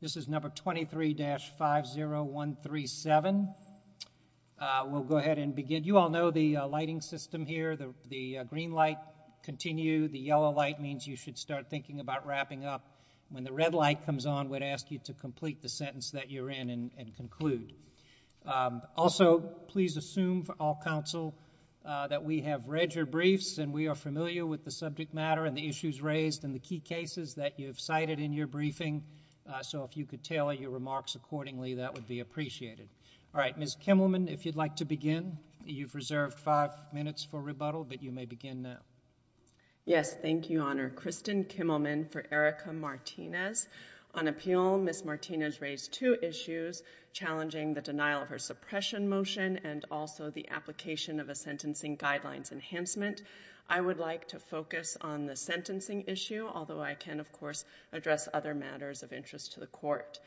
this is number 23-50137 we'll go ahead and begin you all know the lighting system here the green light continue the yellow light means you should start thinking about wrapping up when the red light comes on would ask you to complete the sentence that you're in and conclude also please assume for all counsel that we have read your briefs and we are familiar with the subject matter and the key cases that you've cited in your briefing so if you could tell your remarks accordingly that would be appreciated all right miss Kimmelman if you'd like to begin you've reserved five minutes for rebuttal but you may begin now yes thank you honor Kristen Kimmelman for Erica Martinez on appeal miss Martinez raised two issues challenging the denial of her suppression motion and also the application of a sentencing guidelines enhancement I would like to focus on the sentencing issue although I can of course address other matters of interest to the court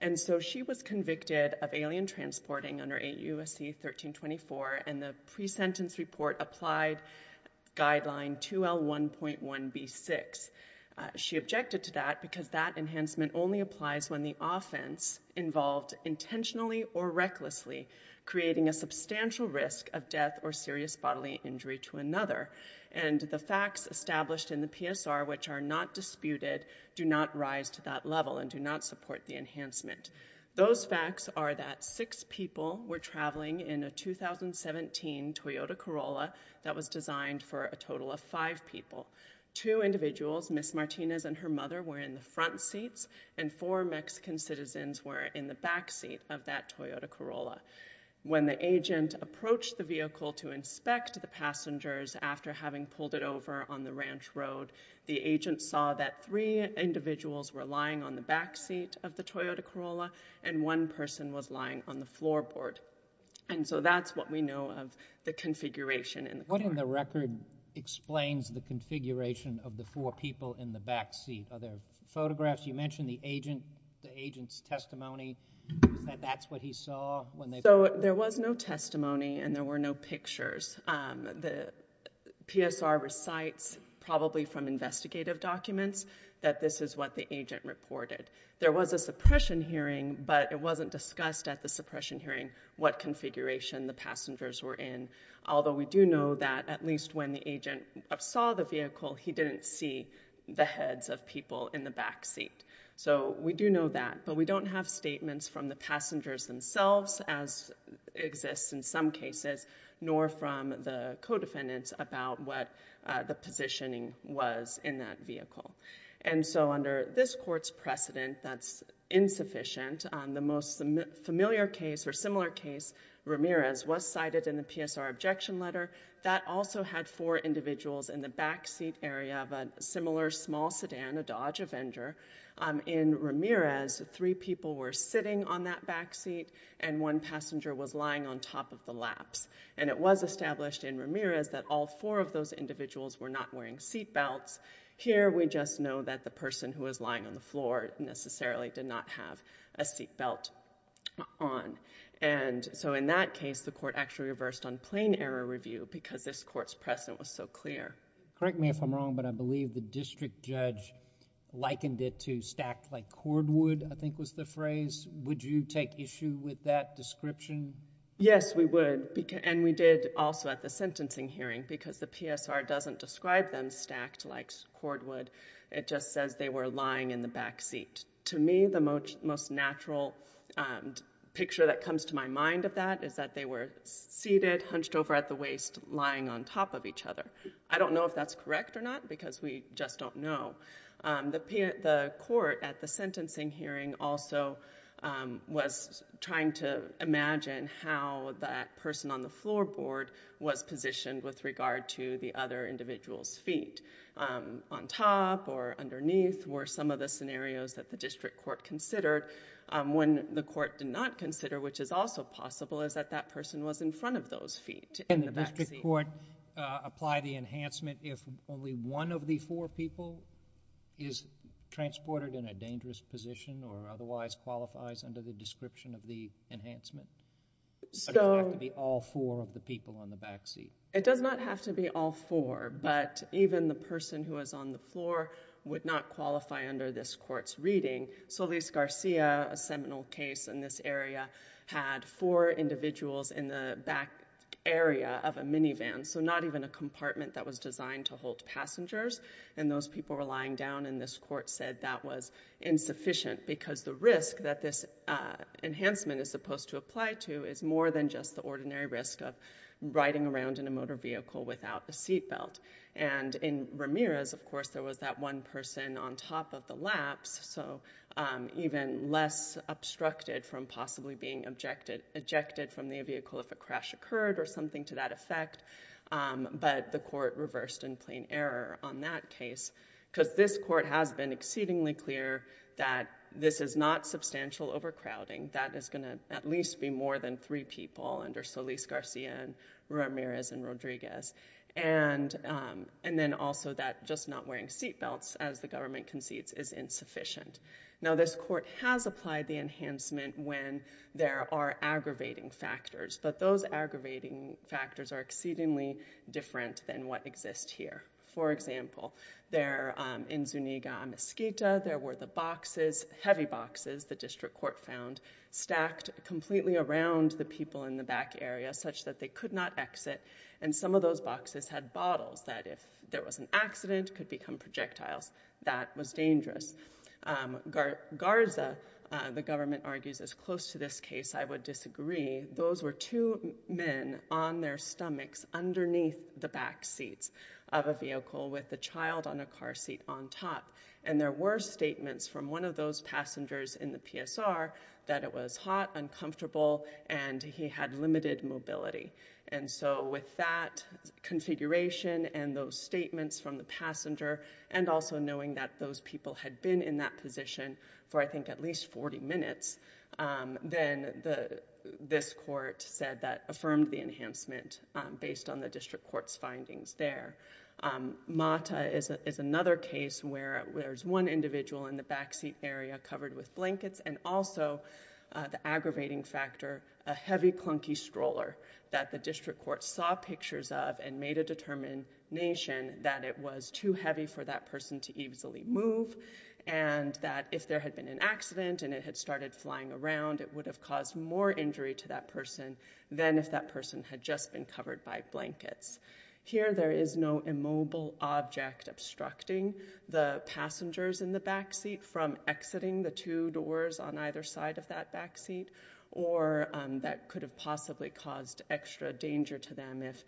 and so she was convicted of alien transporting under a USC 1324 and the pre-sentence report applied guideline 2l 1.1 b6 she objected to that because that enhancement only applies when the offense involved intentionally or recklessly creating a substantial risk of death or serious bodily injury to another and the facts established in the PSR which are not disputed do not rise to that level and do not support the enhancement those facts are that six people were traveling in a 2017 Toyota Corolla that was designed for a total of five people two individuals miss Martinez and her mother were in the front seats and four Mexican citizens were in the back seat of that Toyota Corolla when the agent approached the vehicle to inspect the passengers after having pulled it over on the ranch road the agent saw that three individuals were lying on the back seat of the Toyota Corolla and one person was lying on the floorboard and so that's what we know of the configuration and what in the record explains the configuration of the four people in the back seat other photographs you mentioned the agent the testimony that that's what he saw when they so there was no testimony and there were no pictures the PSR recites probably from investigative documents that this is what the agent reported there was a suppression hearing but it wasn't discussed at the suppression hearing what configuration the passengers were in although we do know that at least when the agent saw the vehicle he didn't see the heads of people in the back seat so we do know that but we don't have statements from the passengers themselves as exists in some cases nor from the co-defendants about what the positioning was in that vehicle and so under this courts precedent that's insufficient on the most familiar case or similar case Ramirez was cited in the PSR objection letter that also had four individuals in the backseat area of a similar small sedan a Dodge Avenger in Ramirez three people were sitting on that backseat and one passenger was lying on top of the laps and it was established in Ramirez that all four of those individuals were not wearing seat belts here we just know that the person who is lying on the floor necessarily did not have a seat belt on and so in that case the court actually reversed on plain error review because this courts precedent was so clear correct me if I'm wrong but I believe the district judge likened it to stack like cordwood I think was the phrase would you take issue with that description yes we would and we did also at the sentencing hearing because the PSR doesn't describe them stacked like cordwood it just says they were lying in the backseat to me the most most natural picture that comes to my mind of that is that they were seated hunched over at the waist lying on top of each other I don't know if that's correct or not because we just don't know the court at the sentencing hearing also was trying to imagine how that person on the floorboard was positioned with regard to the other individuals feet on top or underneath were some of the scenarios that the district court considered when the court did not consider which is also possible is that that person was in front of those feet in the back court apply the four people is transported in a dangerous position or otherwise qualifies under the description of the enhancement so be all four of the people on the backseat it does not have to be all four but even the person who is on the floor would not qualify under this courts reading Solis Garcia a seminal case in this area had four individuals in the back area of a minivan so not even a compartment that was designed to hold passengers and those people were lying down in this court said that was insufficient because the risk that this enhancement is supposed to apply to is more than just the ordinary risk of riding around in a motor vehicle without the seat belt and in Ramirez of course there was that one person on top of the laps so even less obstructed from possibly being objected ejected from the vehicle if a crash occurred or something to that effect but the court reversed in plain error on that case because this court has been exceedingly clear that this is not substantial overcrowding that is going to at least be more than three people under Solis Garcia and Ramirez and Rodriguez and and then also that just not wearing seatbelts as the government concedes is insufficient now this court has applied the enhancement when there are aggravating factors but those aggravating factors are exceedingly different than what exists here for example there in Zuniga a Mesquita there were the boxes heavy boxes the district court found stacked completely around the people in the back area such that they could not exit and some of those boxes had bottles that if there was an accident could become projectiles that was dangerous Garza the government argues as close to this case I would disagree those were two men on their stomachs underneath the back seats of a vehicle with the child on a car seat on top and there were statements from one of those passengers in the PSR that it was hot and comfortable and he had limited mobility and so with that configuration and those statements from the passenger and also knowing that those people had been in that position for I think at least 40 minutes then the this court said that affirmed the enhancement based on the district courts findings there Mata is another case where there's one individual in the backseat area covered with blankets and also the aggravating factor a heavy clunky stroller that the district court saw pictures of and made a determination that it was too heavy for that person to easily move and that if there had been an accident and it had started flying around it would have caused more injury to that person then if that person had just been covered by blankets here there is no immobile object obstructing the passengers in the backseat from exiting the two doors on either side of that backseat or that could have possibly caused extra danger to them if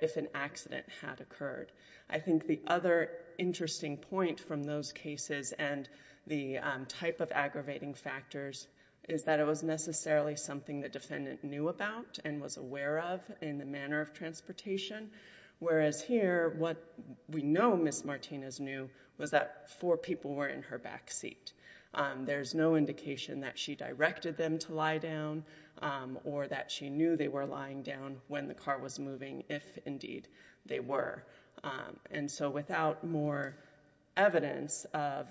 if an accident had occurred I think the other interesting point from those cases and the type of aggravating factors is that it was necessarily something that defendant knew about and was aware of in the manner of transportation whereas here what we know miss Martinez knew was that four people were in her backseat there's no indication that she directed them to lie down or that she knew they were lying down when the car was moving if indeed they were and so without more evidence of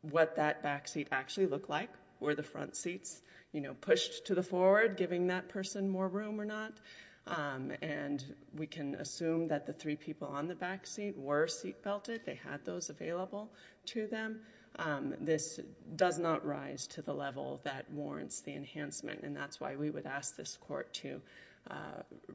what that backseat actually look like where the front seats you know pushed to the forward giving that person more room or not and we can assume that the three people on the backseat were seat belted they had those available to them this does not rise to the level that warrants the enhancement and that's why we would ask this court to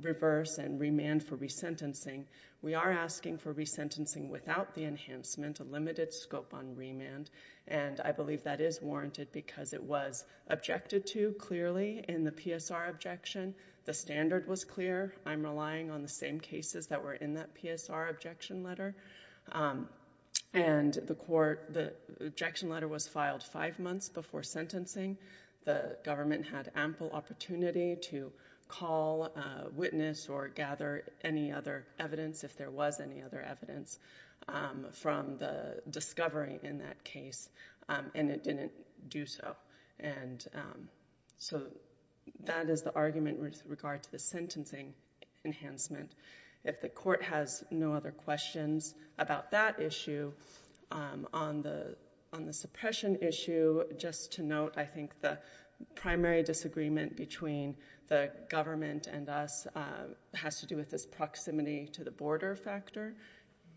reverse and remand for resentencing we are asking for resentencing without the enhancement a limited scope on remand and I believe that is warranted because it was objected to clearly in the PSR objection the standard was clear I'm relying on the same cases that were in that PSR objection letter and the court the government had ample opportunity to call witness or gather any other evidence if there was any other evidence from the discovery in that case and it didn't do so and so that is the argument with regard to the sentencing enhancement if the court has no other questions about that issue on the on the primary disagreement between the government and us has to do with this proximity to the border factor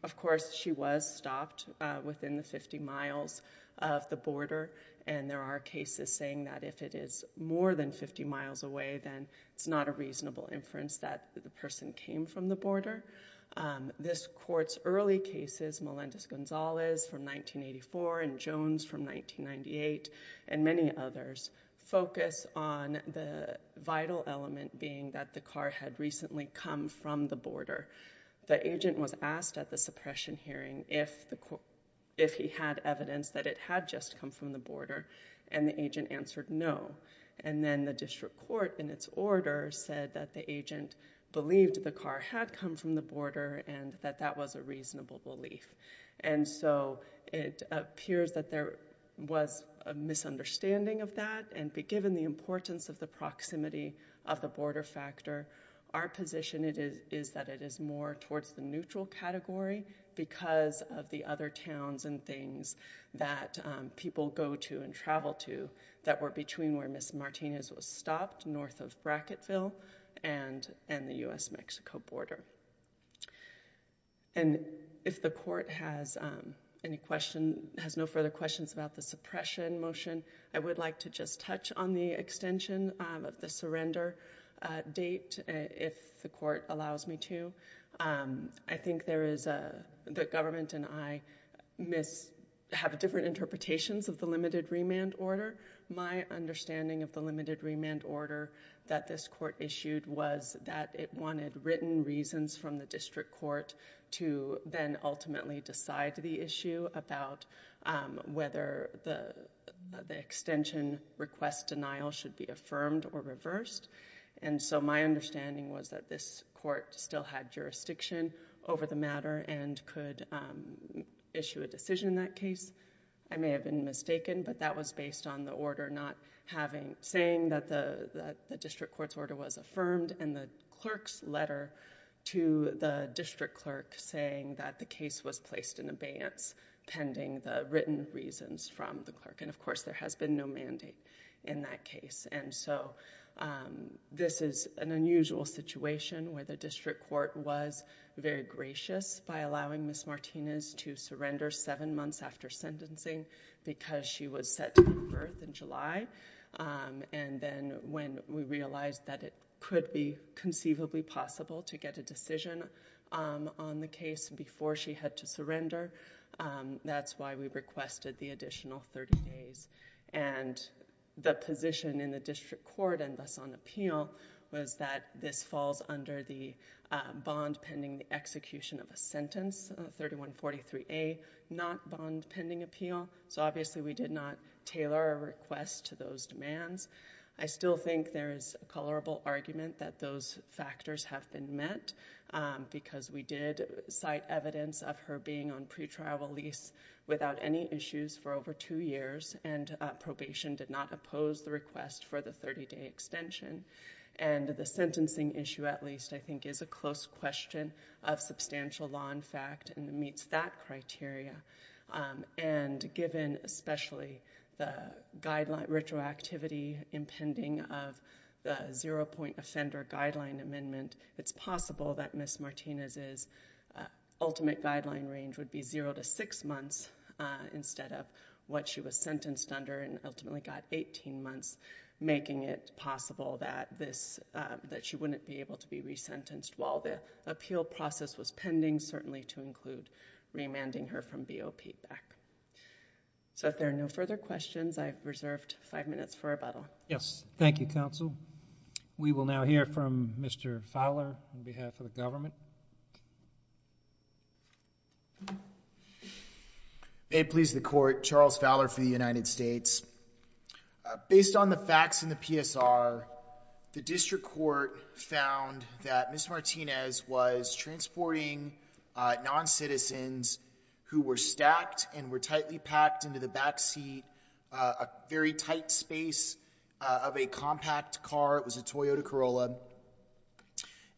of course she was stopped within 50 miles of the border and there are cases saying that if it is more than 50 miles away then it's not a reasonable inference that the person came from the border this courts early cases Melendez Gonzalez from 1984 and Jones from 1998 and many others focus on the vital element being that the car had recently come from the border the agent was asked at the suppression hearing if the court if he had evidence that it had just come from the border and the agent answered no and then the district court in its order said that the agent believed the car had come from the border and that that was a reasonable belief and so it appears that there was a misunderstanding of that and be given the importance of the proximity of the border factor our position it is is that it is more towards the neutral category because of the other towns and things that people go to and travel to that were between where miss Martinez was stopped north of Bracketville and and the US Mexico border and if the court has any question has no further questions about the suppression motion I would like to just touch on the extension of the surrender date if the court allows me to I think there is a the government and I miss have different interpretations of the limited remand order my understanding of the limited remand order that this court issued was that it wanted written reasons from the district court to then whether the extension request denial should be affirmed or reversed and so my understanding was that this court still had jurisdiction over the matter and could issue a decision that case I may have been mistaken but that was based on the order not having saying that the district court's order was affirmed and the clerk's letter to the district clerk saying that the case was placed in written reasons from the clerk and of course there has been no mandate in that case and so this is an unusual situation where the district court was very gracious by allowing miss Martinez to surrender seven months after sentencing because she was set to give birth in July and then when we realized that it could be conceivably possible to get a decision on the case before she had to requested the additional 30 days and the position in the district court and thus on appeal was that this falls under the bond pending execution of a sentence 3143 a not bond pending appeal so obviously we did not tailor a request to those demands I still think there is a colorable argument that those factors have been met because we did cite evidence of her being on pretrial lease without any issues for over two years and probation did not oppose the request for the 30 day extension and the sentencing issue at least I think is a close question of substantial law in fact and meets that criteria and given especially the guideline retroactivity impending of the zero-point offender guideline amendment it's possible that miss Martinez is ultimate guideline range would be 0 to 6 months instead of what she was sentenced under and ultimately got 18 months making it possible that this that she wouldn't be able to be resentenced while the appeal process was pending certainly to include remanding her from BOP back so if there are no further questions I've reserved five minutes for rebuttal yes thank you counsel we will now hear from mr. Fowler on behalf of the government it pleased the court Charles Fowler for the United States based on the facts in the PSR the district court found that miss Martinez was transporting non-citizens who were stacked and were tightly packed into the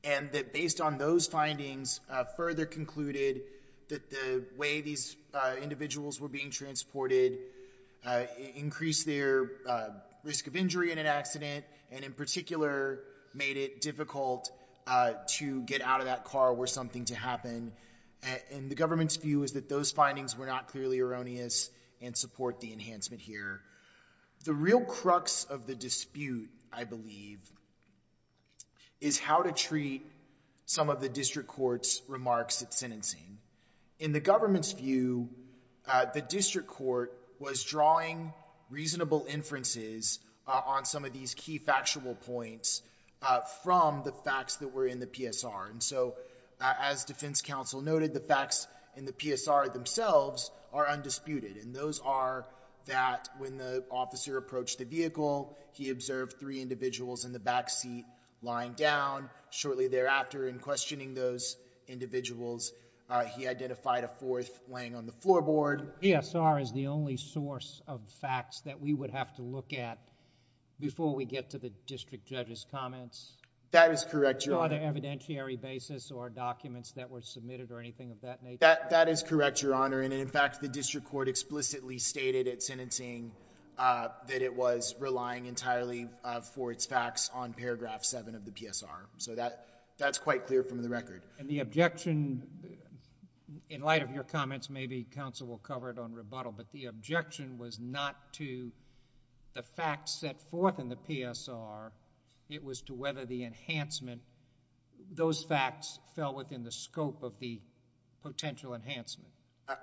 and that based on those findings further concluded that the way these individuals were being transported increase their risk of injury in an accident and in particular made it difficult to get out of that car or something to happen and the government's view is that those findings were not clearly erroneous and support the enhancement here the real crux of the some of the district courts remarks at sentencing in the government's view the district court was drawing reasonable inferences on some of these key factual points from the facts that were in the PSR and so as defense counsel noted the facts in the PSR themselves are undisputed and those are that when the officer approached the vehicle he observed three individuals in the back lying down shortly thereafter in questioning those individuals he identified a fourth laying on the floorboard yes our is the only source of facts that we would have to look at before we get to the district judges comments that is correct your other evidentiary basis or documents that were submitted or anything of that that that is correct your honor and in fact the district court explicitly stated at sentencing that it was relying entirely for its facts on paragraph 7 of the PSR so that that's quite clear from the record and the objection in light of your comments maybe counsel will cover it on rebuttal but the objection was not to the fact set forth in the PSR it was to whether the enhancement those facts fell within the scope of the potential enhancement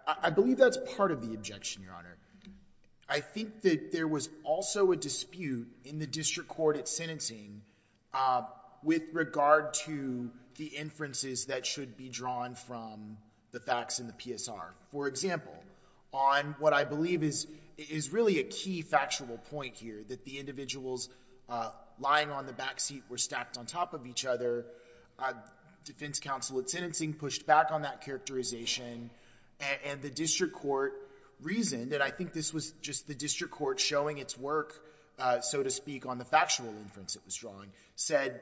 I believe that's part of the objection your honor I think that there was also a dispute in the district court at sentencing with regard to the inferences that should be drawn from the facts in the PSR for example on what I believe is is really a key factual point here that the individuals lying on the backseat were stacked on top of each other defense counsel at sentencing pushed back on that characterization and the district court reasoned and I think this was just the district court showing its work so to speak on the factual inference it was drawing said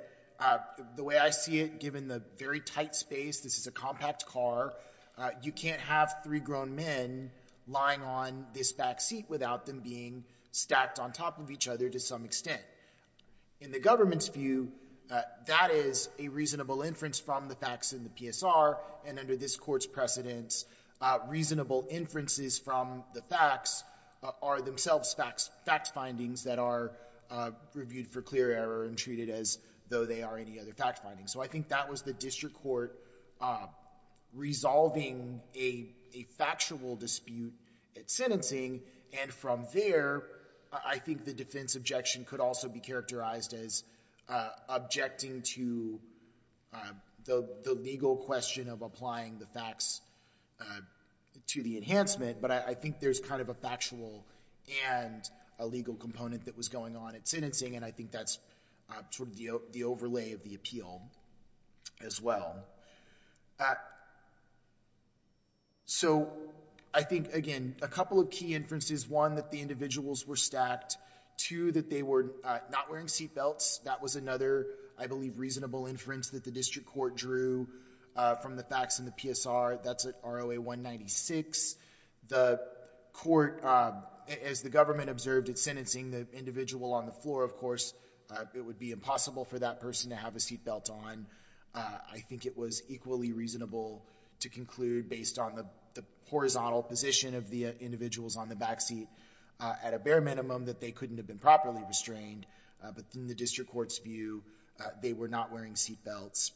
the way I see it given the very tight space this is a compact car you can't have three grown men lying on this back seat without them being stacked on top of each other to some extent in the government's view that is a reasonable inference from the facts in the PSR and under this courts precedence reasonable inferences from the facts are themselves facts fact findings that are reviewed for clear error and treated as though they are any other fact finding so I think that was the district court resolving a factual dispute at sentencing and from there I think the defense objection could also be characterized as objecting to the legal question of applying the facts to the enhancement but I think there's kind of a factual and a legal component that was going on at sentencing and I think that's the overlay of the appeal as well so I think again a couple of key inferences one that the individuals were stacked to that they were not wearing seatbelts that was another I believe reasonable inference that the district court drew from the facts in the PSR that's at ROA 196 the court as the government observed at sentencing the individual on the floor of course it would be impossible for that person to have a seat belt on I think it was equally reasonable to conclude based on the horizontal position of the individuals on the back seat at a bare minimum that they couldn't have been properly restrained but in the district court's view they were not wearing seatbelts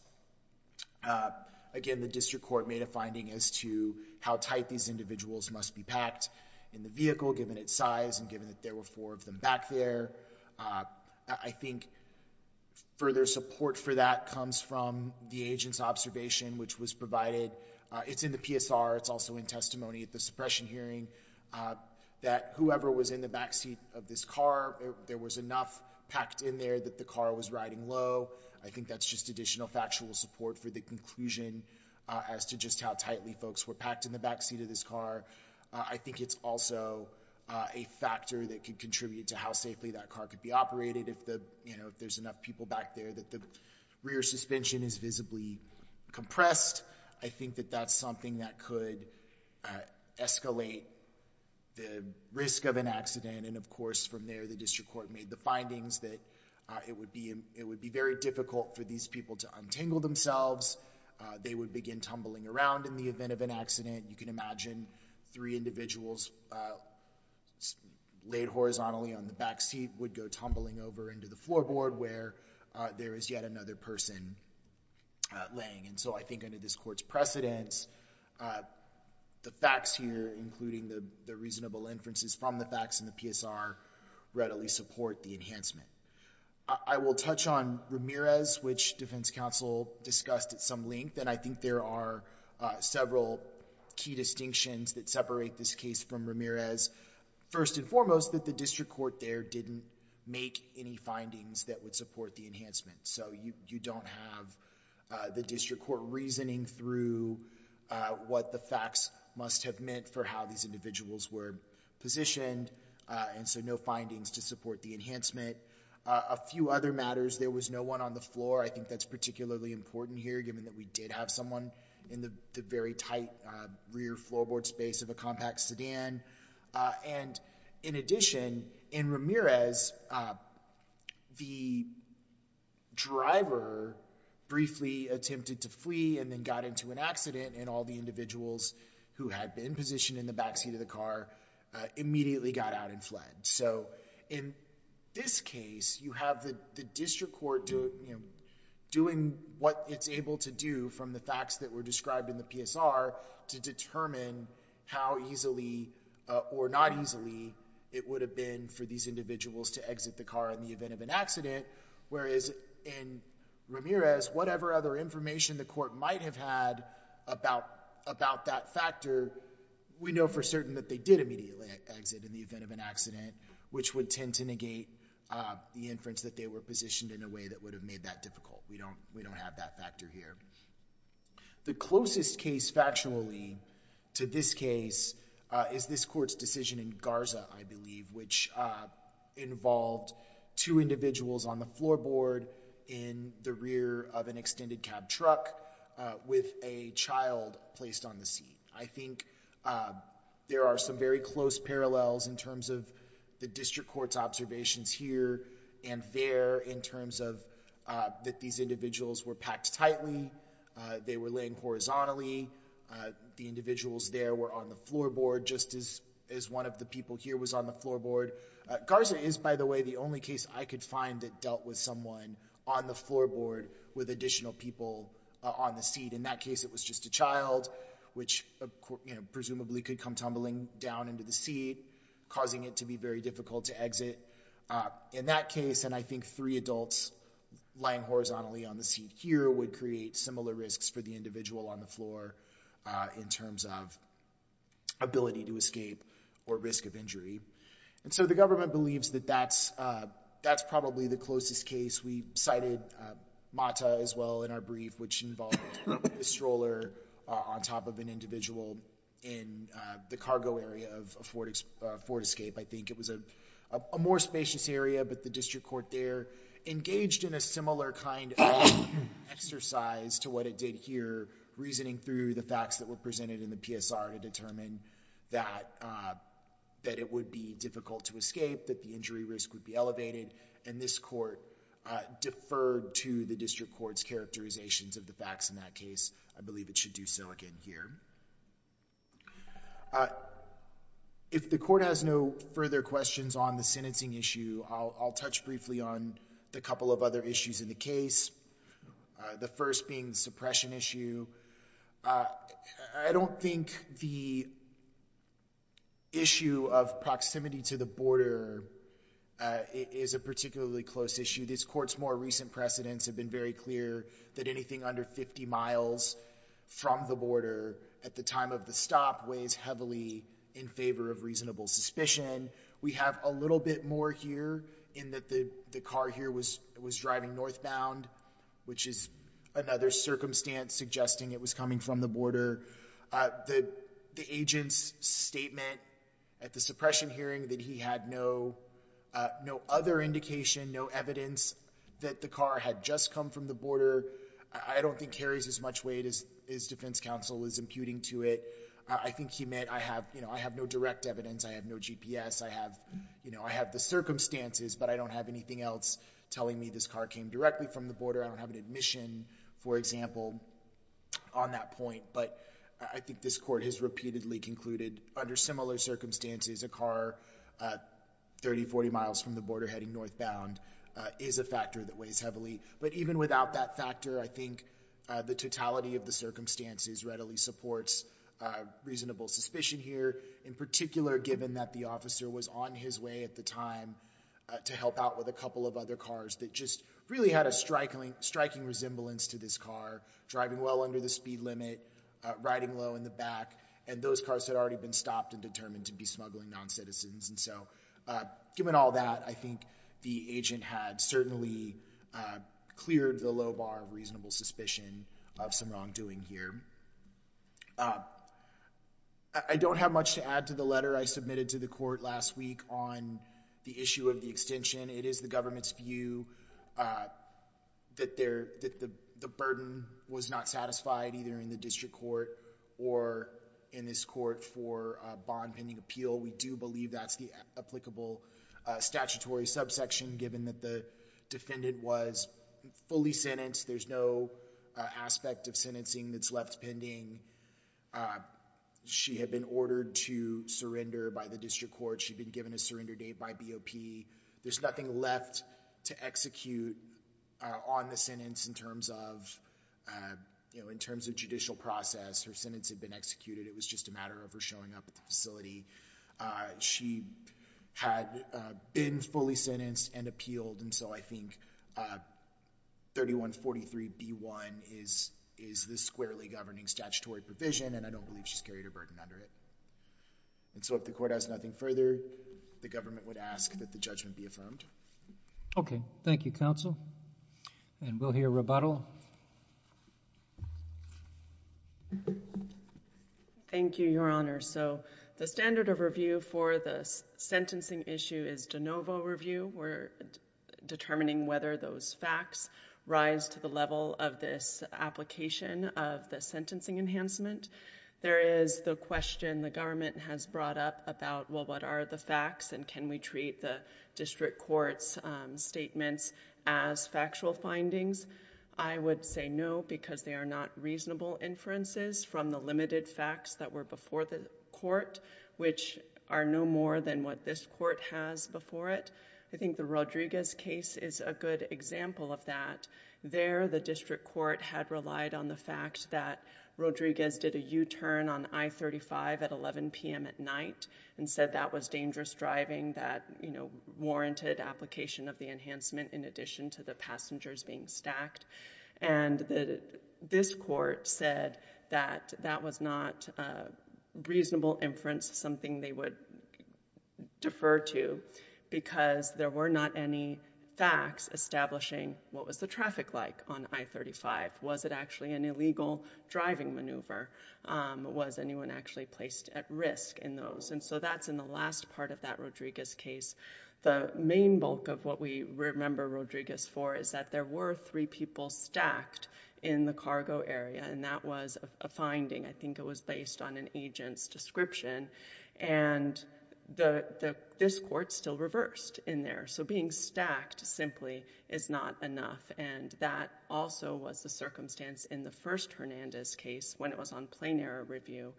again the district court made a finding as to how tight these individuals must be packed in the vehicle given its size and given that there were four of them back there I think further support for that comes from the agents observation which was provided it's in the PSR it's also in testimony at the suppression hearing that whoever was in the backseat of this car there was enough packed in there that the car was riding low I think that's just additional factual support for the conclusion as to just how tightly folks were packed in the back seat of this car I think it's also a factor that could contribute to how safely that car could be operated if the you know if there's enough people back there that the rear suspension is visibly compressed I think that that's something that could escalate the risk of an accident and of course from there the district court made the findings that it would be it would be very difficult for these people to untangle themselves they would begin tumbling around in the event of an accident you can imagine three individuals laid horizontally on the back seat would go tumbling over into the floorboard where there is yet another person laying and so I think under this courts precedence the facts here including the the reasonable inferences from the facts in the PSR readily support the enhancement I will touch on Ramirez which defense counsel discussed at some length and I think there are several key distinctions that separate this case from Ramirez first and foremost that the district court there didn't make any findings that would support the enhancement so you don't have the district court reasoning through what the facts must have meant for how these individuals were positioned and so no findings to support the enhancement a few other matters there was no one on the floor I think that's particularly important here given that we did have someone in the very tight rear floorboard space of a compact sedan and in addition in Ramirez the driver briefly attempted to flee and then got into an accident and all the individuals who had been positioned in the back seat of the car immediately got out and fled so in this case you have the district court doing what it's able to do from the facts that were described in the PSR to determine how easily or not easily it would have been for these individuals to exit the car in the event of an accident whereas in Ramirez whatever other information the court might have had about about that for certain that they did immediately exit in the event of an accident which would tend to negate the inference that they were positioned in a way that would have made that difficult we don't we don't have that factor here the closest case factually to this case is this court's decision in Garza I believe which involved two individuals on the floorboard in the rear of an extended cab truck with a child placed on the seat I think there are some very close parallels in terms of the district court's observations here and there in terms of that these individuals were packed tightly they were laying horizontally the individuals there were on the floorboard just as as one of the people here was on the floorboard Garza is by the way the only case I could find that dealt with someone on the floorboard with additional people on the seat in that case it was just a child which presumably could come tumbling down into the seat causing it to be very difficult to exit in that case and I think three adults lying horizontally on the seat here would create similar risks for the individual on the floor in terms of ability to escape or risk of injury and so the government believes that that's that's the closest case we cited Mata as well in our brief which involved a stroller on top of an individual in the cargo area of a Ford Ford escape I think it was a more spacious area but the district court there engaged in a similar kind of exercise to what it did here reasoning through the facts that were presented in the PSR to determine that that it would be difficult to elevated and this court deferred to the district court's characterizations of the facts in that case I believe it should do silicon here if the court has no further questions on the sentencing issue I'll touch briefly on the couple of other issues in the case the first being suppression issue I don't think the issue of proximity to the border is a particularly close issue these courts more recent precedents have been very clear that anything under 50 miles from the border at the time of the stop weighs heavily in favor of reasonable suspicion we have a little bit more here in that the the car here was was driving northbound which is another circumstance suggesting it was coming from the border the the agent's statement at the suppression hearing that he had no no other indication no evidence that the car had just come from the border I don't think carries as much weight as his defense counsel is imputing to it I think he meant I have you know I have no direct evidence I have no GPS I have you know I have the circumstances but I don't have anything else telling me this car came directly from the border I don't have an admission for example on that point but I think this court has repeatedly concluded under similar circumstances a car 30 40 miles from the border heading northbound is a factor that weighs heavily but even without that factor I think the totality of the circumstances readily supports reasonable suspicion here in particular given that the officer was on his way at the time to help out with a couple of other cars that just really had a striking striking resemblance to this car driving well under the speed limit riding low in the back and those cars had already been stopped and determined to be smuggling non-citizens and so given all that I think the agent had certainly cleared the low bar of reasonable suspicion of some wrongdoing here I don't have much to add to the letter I submitted to the court last week on the issue of the extension it is the government's view that there that the burden was not satisfied either in the district court or in this court for bond pending appeal we do believe that's the applicable statutory subsection given that the defendant was fully sentenced there's no aspect of sentencing that's left pending she had been ordered to surrender by the district court she'd been given a there's nothing left to execute on the sentence in terms of you know in terms of judicial process her sentence had been executed it was just a matter of her showing up at the facility she had been fully sentenced and appealed and so I think 3143 b1 is is the squarely governing statutory provision and I don't believe she's carried a burden under it and so if the court has nothing further the government would ask that the judgment be affirmed okay thank you counsel and we'll hear rebuttal thank you your honor so the standard of review for the sentencing issue is de novo review we're determining whether those facts rise to the level of this application of the sentencing enhancement there is the question the government has brought up about well what are the facts and can we treat the district courts statements as factual findings I would say no because they are not reasonable inferences from the limited facts that were before the court which are no more than what this court has before it I think the Rodriguez case is a good example of that there the Rodriguez did a u-turn on I-35 at 11 p.m. at night and said that was dangerous driving that you know warranted application of the enhancement in addition to the passengers being stacked and the this court said that that was not reasonable inference something they would defer to because there were not any facts establishing what was the traffic like on I-35 was it actually an over was anyone actually placed at risk in those and so that's in the last part of that Rodriguez case the main bulk of what we remember Rodriguez for is that there were three people stacked in the cargo area and that was a finding I think it was based on an agent's description and the this court still reversed in there so being stacked simply is not enough and that also was the circumstance in the first Hernandez case when it was on plane error review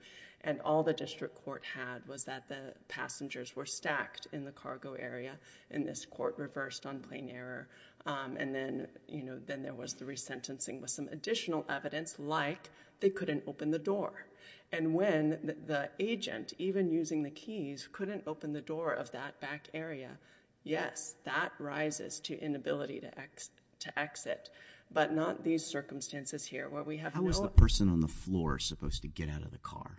and all the district court had was that the passengers were stacked in the cargo area in this court reversed on plane error and then you know then there was the resentencing with some additional evidence like they couldn't open the door and when the agent even using the keys couldn't open the door of that yes that rises to inability to X to exit but not these circumstances here what we have a person on the floor supposed to get out of the car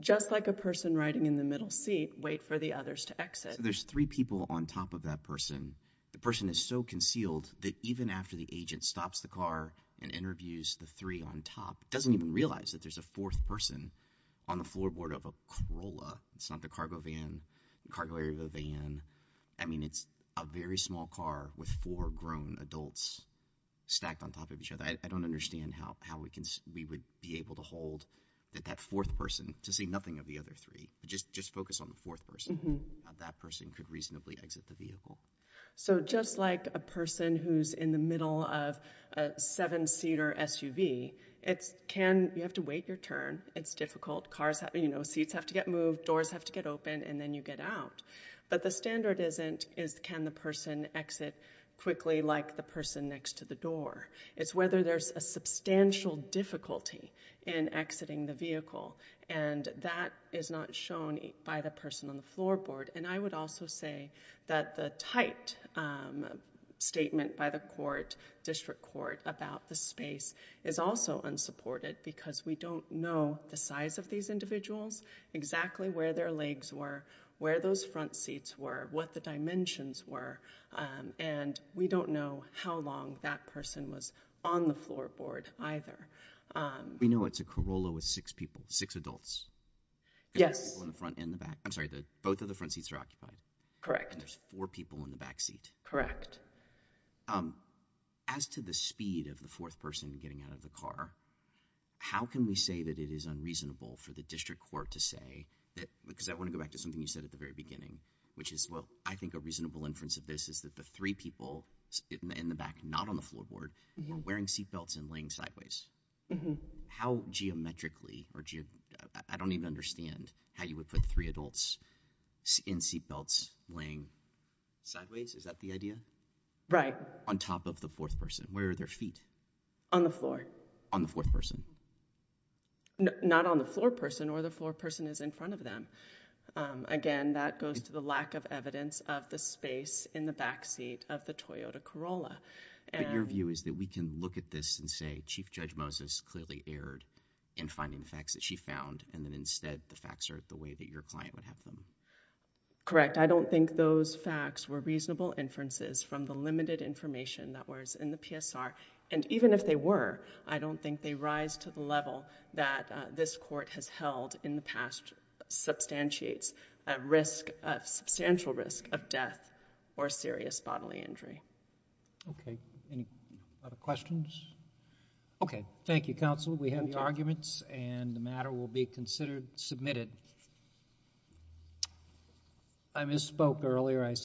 just like a person riding in the middle seat wait for the others to exit there's three people on top of that person the person is so concealed that even after the agent stops the car and interviews the three on top doesn't even realize that there's a fourth person on the floorboard of a Corolla it's not the cargo van cargo van I mean it's a very small car with four grown adults stacked on top of each other I don't understand how how we can we would be able to hold that that fourth person to see nothing of the other three just just focus on the fourth person that person could reasonably exit the vehicle so just like a person who's in the middle of a seven seater SUV it's can you have to wait your turn it's difficult cars have you know seats have to get moved doors have to get open and then you get out but the standard isn't is can the person exit quickly like the person next to the door it's whether there's a substantial difficulty in exiting the vehicle and that is not shown by the person on the floorboard and I would also say that the tight statement by the court district court about the space is also unsupported because we don't know the size of these those front seats were what the dimensions were and we don't know how long that person was on the floorboard either we know it's a Corolla with six people six adults yes in the front in the back I'm sorry the both of the front seats are occupied correct there's four people in the back seat correct as to the speed of the fourth person getting out of the car how can we say that it is unreasonable for the district court to say that because I want to go back to something you said at the very beginning which is well I think a reasonable inference of this is that the three people in the back not on the floorboard wearing seatbelts and laying sideways mm-hmm how geometrically or do you I don't even understand how you would put three adults in seatbelts laying sideways is that the idea right on top of the fourth person where are their feet on the floor on the fourth person not on the floor person or the floor person is in front of them again that goes to the lack of evidence of the space in the backseat of the Toyota Corolla and your view is that we can look at this and say Chief Judge Moses clearly erred in finding facts that she found and then instead the facts are the way that your client would have them correct I don't think those facts were reasonable inferences from the limited information that was in the PSR and even if they were I don't think they rise to the level that this court has held in the past substantiates a risk of substantial risk of death or serious bodily injury okay any other questions okay thank you counsel we have the arguments and the matter will be considered submitted I misspoke earlier I